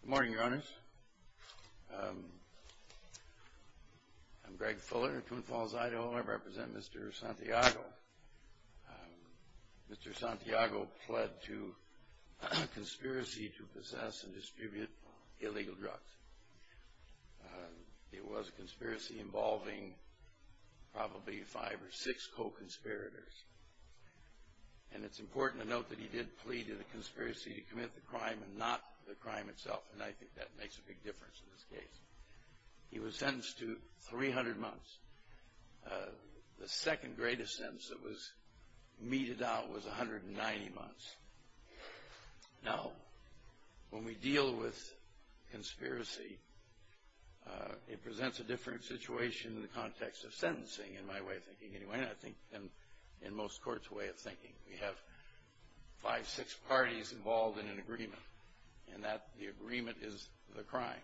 Good morning, your honors. I'm Greg Fuller in Toon Falls, Idaho, and I represent Mr. Santiago. Mr. Santiago pled to conspiracy to possess and distribute illegal drugs. It was a conspiracy involving probably five or six co-conspirators. And it's important to note that he did plead to the conspiracy to commit the crime and not the crime itself, and I think that makes a big difference in this case. He was sentenced to 300 months. The second greatest sentence that was meted out was 190 months. Now, when we deal with conspiracy, it presents a different situation in the context of sentencing, in my way of thinking anyway, and I think in most courts' way of thinking. We have five, six parties involved in an agreement, and the agreement is the crime.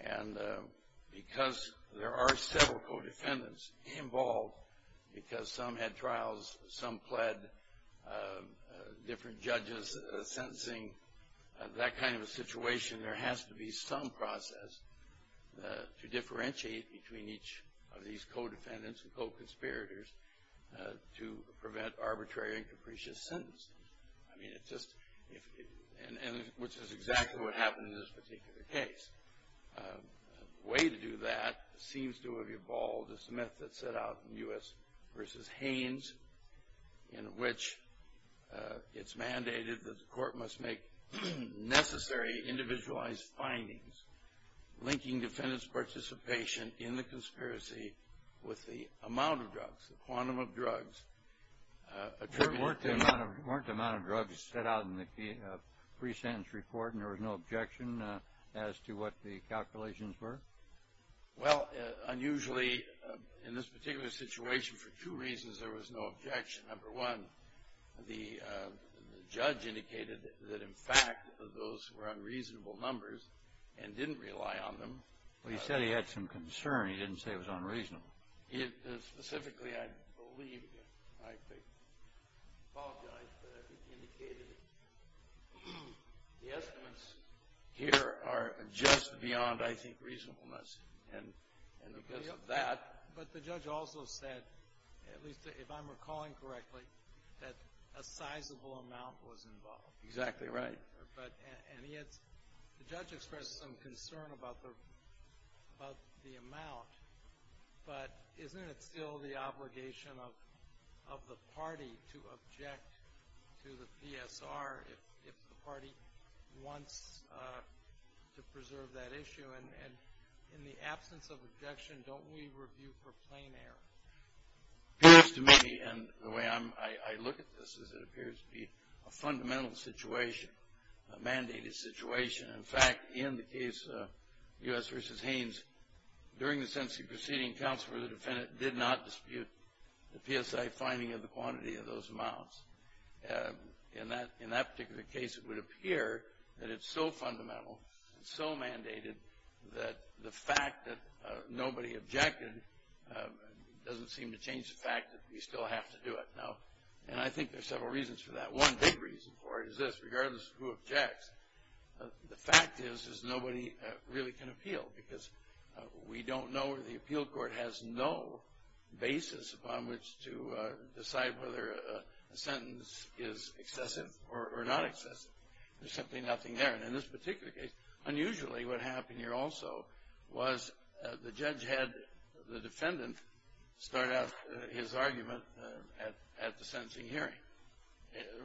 And because there are several co-defendants involved, because some had trials, some pled, different judges sentencing, that kind of a situation, there has to be some process to differentiate between each of these co-defendants and co-conspirators to prevent arbitrary and capricious sentences. I mean, it's just, which is exactly what happened in this particular case. A way to do that seems to have evolved a method set out in U.S. v. Haines in which it's mandated that the court must make necessary individualized findings linking defendant's participation in the conspiracy with the amount of drugs, the quantum of drugs. Weren't the amount of drugs set out in the pre-sentence report and there was no objection as to what the calculations were? Well, unusually, in this particular situation, for two reasons there was no objection. Number one, the judge indicated that, in fact, those were unreasonable numbers and didn't rely on them. Well, he said he had some concern. He didn't say it was unreasonable. Specifically, I believe, I apologize, but I think he indicated the estimates here are just beyond, I think, reasonableness. And because of that But the judge also said, at least if I'm recalling correctly, that a sizable amount was involved. Exactly right. And he had, the judge expressed some concern about the amount, but isn't it still the obligation of the party to object to the PSR if the party wants to preserve that issue? And in the absence of objection, don't we review for plain error? It appears to me, and the way I look at this is it appears to be a fundamental situation, a mandated situation. In fact, in the case of U.S. v. Haynes, during the sentencing proceeding, counsel or the defendant did not dispute the PSI finding of the quantity of those amounts. In that particular case, it would appear that it's so fundamental, so mandated, that the fact that nobody objected doesn't seem to change the fact that we still have to do it. And I think there's several reasons for that. One big reason for it is this, regardless of who objects, the fact is nobody really can appeal because we don't know, the appeal court has no basis upon which to decide whether a sentence is excessive or not excessive. There's simply nothing there. And in this particular case, unusually what happened here also was the judge had the defendant start out his argument at the sentencing hearing.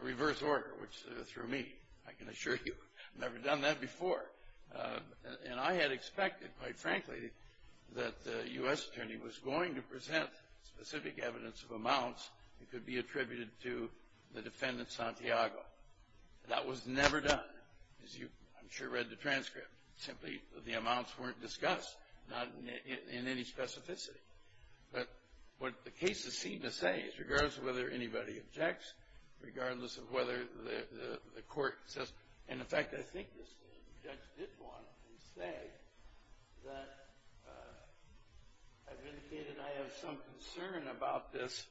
Reverse order, which through me, I can assure you, never done that before. And I had expected, quite frankly, that the U.S. attorney was going to present specific evidence of amounts that could be attributed to the defendant, Santiago. That was never done, as you, I'm sure, read the transcript. Simply, the amounts weren't discussed, not in any specificity. But what the cases seem to say is regardless of whether anybody objects, regardless of whether the court says, and, in fact, I think the judge did want to say that I've indicated I have some concern about this,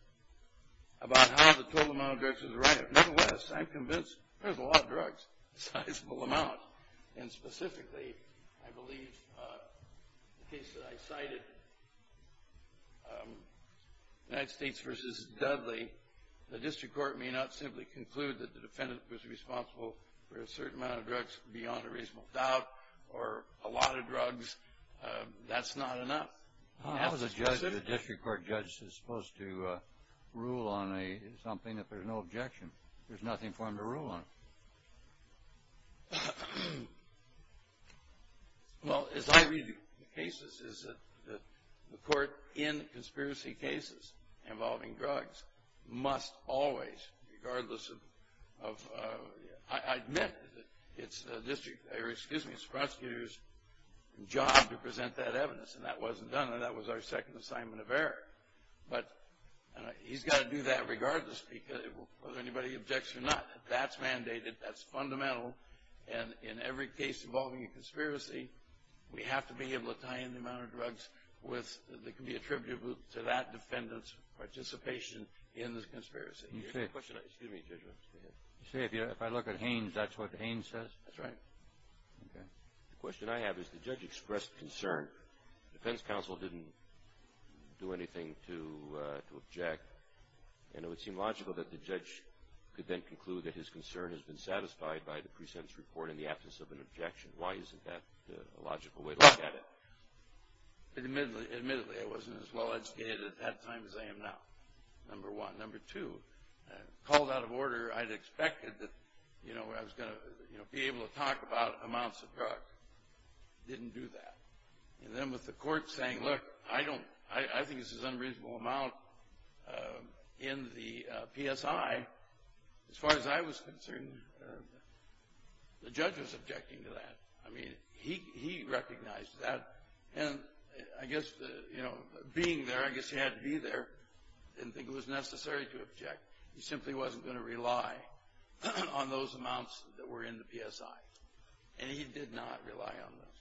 about how the total amount of drugs is right. Nevertheless, I'm convinced there's a lot of drugs, a sizable amount. And specifically, I believe the case that I cited, United States v. Dudley, the district court may not simply conclude that the defendant was responsible for a certain amount of drugs beyond a reasonable doubt or a lot of drugs. That's not enough. The district court judge is supposed to rule on something if there's no objection. There's nothing for him to rule on. Well, as I read the cases, the court in conspiracy cases involving drugs must always, regardless of, I admit it's the prosecutor's job to present that evidence. And that wasn't done. That was our second assignment of error. But he's got to do that regardless, whether anybody objects or not. That's mandated. That's fundamental. And in every case involving a conspiracy, we have to be able to tie in the amount of drugs that can be attributable to that defendant's participation in the conspiracy. Excuse me, Judge, go ahead. You say if I look at Haines, that's what Haines says? That's right. Okay. The question I have is the judge expressed concern. The defense counsel didn't do anything to object. And it would seem logical that the judge could then conclude that his concern has been satisfied by the precinct's report in the absence of an objection. Why isn't that a logical way to look at it? Admittedly, I wasn't as well educated at that time as I am now, number one. Number two, called out of order, I'd expected that I was going to be able to talk about amounts of drugs. Didn't do that. And then with the court saying, look, I think this is an unreasonable amount in the PSI, as far as I was concerned, the judge was objecting to that. I mean, he recognized that. And I guess, you know, being there, I guess he had to be there, didn't think it was necessary to object. He simply wasn't going to rely on those amounts that were in the PSI. And he did not rely on those.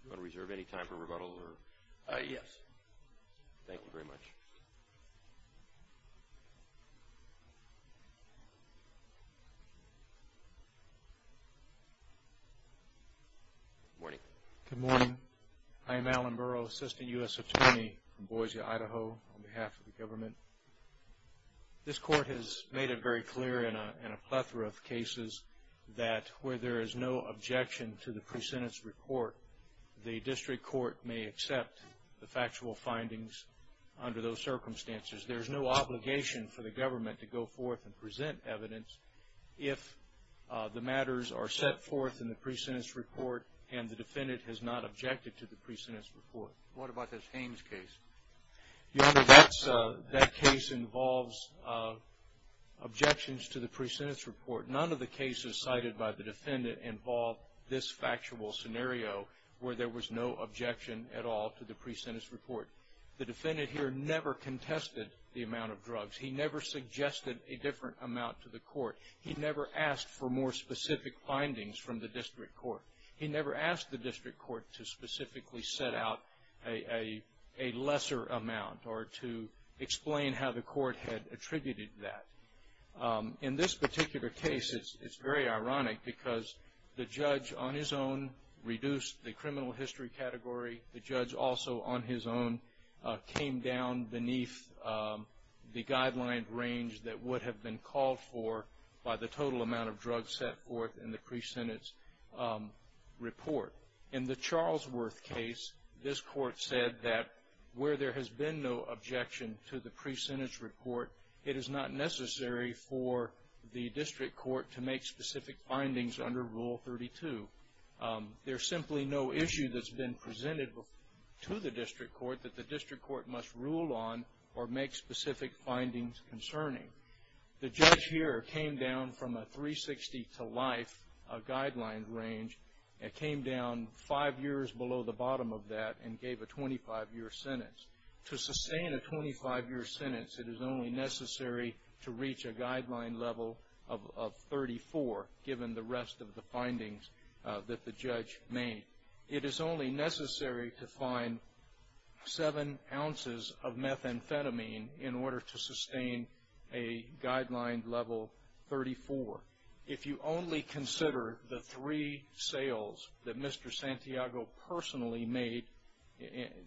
Do you want to reserve any time for rebuttal? Yes. Thank you very much. Good morning. Good morning. I am Alan Burrow, Assistant U.S. Attorney from Boise, Idaho, on behalf of the government. This court has made it very clear in a plethora of cases that where there is no objection to the pre-sentence report, the district court may accept the factual findings under those circumstances. There is no obligation for the government to go forth and present evidence if the matters are set forth in the pre-sentence report and the defendant has not objected to the pre-sentence report. What about this Haines case? Your Honor, that case involves objections to the pre-sentence report. None of the cases cited by the defendant involve this factual scenario where there was no objection at all to the pre-sentence report. The defendant here never contested the amount of drugs. He never suggested a different amount to the court. He never asked for more specific findings from the district court. He never asked the district court to specifically set out a lesser amount or to explain how the court had attributed that. In this particular case, it's very ironic because the judge on his own reduced the criminal history category. The judge also on his own came down beneath the guideline range that would have been called for by the total amount of drugs set forth in the pre-sentence report. In the Charlesworth case, this court said that where there has been no objection to the pre-sentence report, it is not necessary for the district court to make specific findings under Rule 32. There's simply no issue that's been presented to the district court that the district court must rule on or make specific findings concerning. The judge here came down from a 360 to life guideline range. It came down five years below the bottom of that and gave a 25-year sentence. To sustain a 25-year sentence, it is only necessary to reach a guideline level of 34, given the rest of the findings that the judge made. It is only necessary to find seven ounces of methamphetamine in order to sustain a guideline level 34. If you only consider the three sales that Mr. Santiago personally made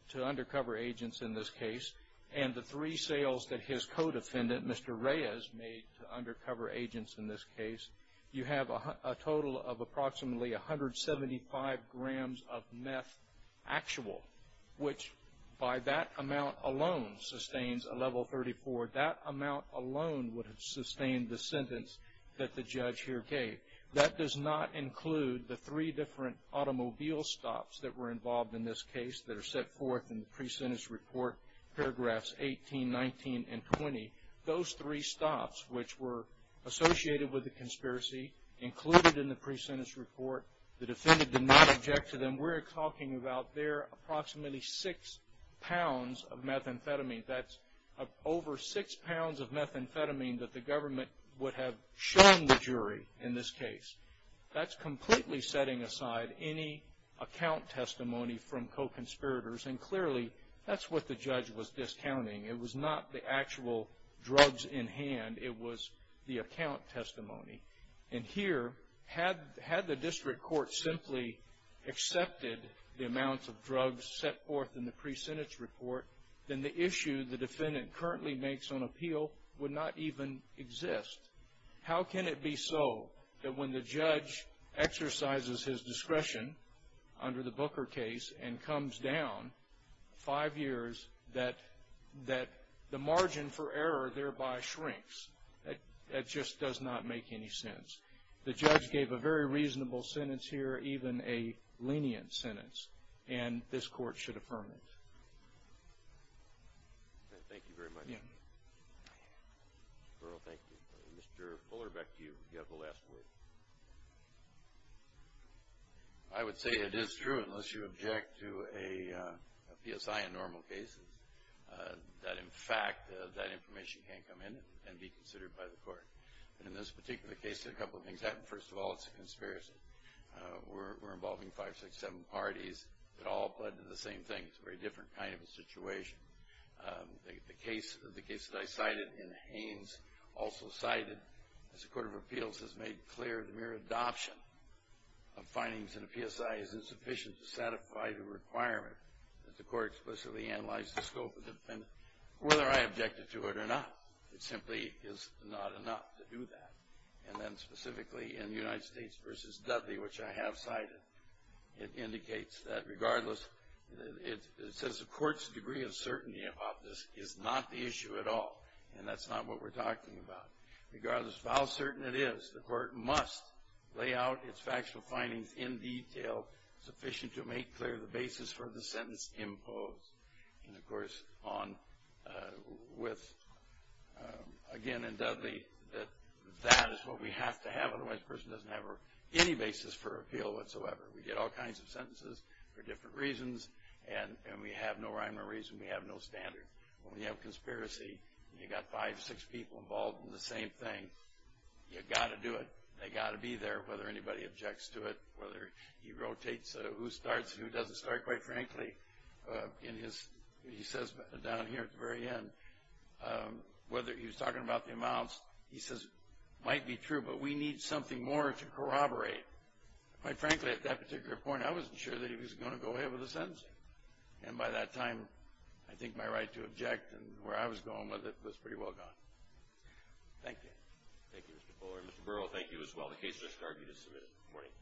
to undercover agents in this case and the three sales that his co-defendant, Mr. Reyes, made to undercover agents in this case, you have a total of approximately 175 grams of meth actual, which by that amount alone sustains a level 34. That amount alone would have sustained the sentence that the judge here gave. That does not include the three different automobile stops that were involved in this case that are set forth in the pre-sentence report, paragraphs 18, 19, and 20. Those three stops, which were associated with the conspiracy, included in the pre-sentence report. The defendant did not object to them. We're talking about there approximately six pounds of methamphetamine. That's over six pounds of methamphetamine that the government would have shown the jury in this case. That's completely setting aside any account testimony from co-conspirators, and clearly that's what the judge was discounting. It was not the actual drugs in hand. It was the account testimony. And here, had the district court simply accepted the amounts of drugs set forth in the pre-sentence report, then the issue the defendant currently makes on appeal would not even exist. How can it be so that when the judge exercises his discretion under the Booker case and comes down five years, that the margin for error thereby shrinks? That just does not make any sense. The judge gave a very reasonable sentence here, even a lenient sentence, and this court should affirm it. Thank you very much. Thank you. Mr. Fuller, back to you. You have the last word. I would say it is true, unless you object to a PSI in normal cases, that, in fact, that information can come in and be considered by the court. In this particular case, a couple of things happened. First of all, it's a conspiracy. We're involving five, six, seven parties. It all led to the same thing. It's a very different kind of a situation. The case that I cited in Haines also cited, as the Court of Appeals has made clear, the mere adoption of findings in a PSI is insufficient to satisfy the requirement. The court explicitly analyzed the scope of the defendant, whether I objected to it or not. It simply is not enough to do that. And then specifically in the United States v. Dudley, which I have cited, it indicates that regardless, it says the court's degree of certainty about this is not the issue at all, and that's not what we're talking about. Regardless of how certain it is, the court must lay out its factual findings in detail, sufficient to make clear the basis for the sentence imposed. And, of course, with, again, in Dudley, that that is what we have to have, otherwise the person doesn't have any basis for appeal whatsoever. We get all kinds of sentences for different reasons, and we have no rhyme or reason, we have no standard. When we have conspiracy and you've got five, six people involved in the same thing, you've got to do it, they've got to be there, whether anybody objects to it, whether he rotates who starts and who doesn't start. Quite frankly, he says down here at the very end, whether he was talking about the amounts, he says it might be true, but we need something more to corroborate. Quite frankly, at that particular point, I wasn't sure that he was going to go ahead with the sentencing. And by that time, I think my right to object and where I was going with it was pretty well gone. Thank you. Thank you, Mr. Fuller. Mr. Burrow, thank you as well. The case has now been submitted. Good morning.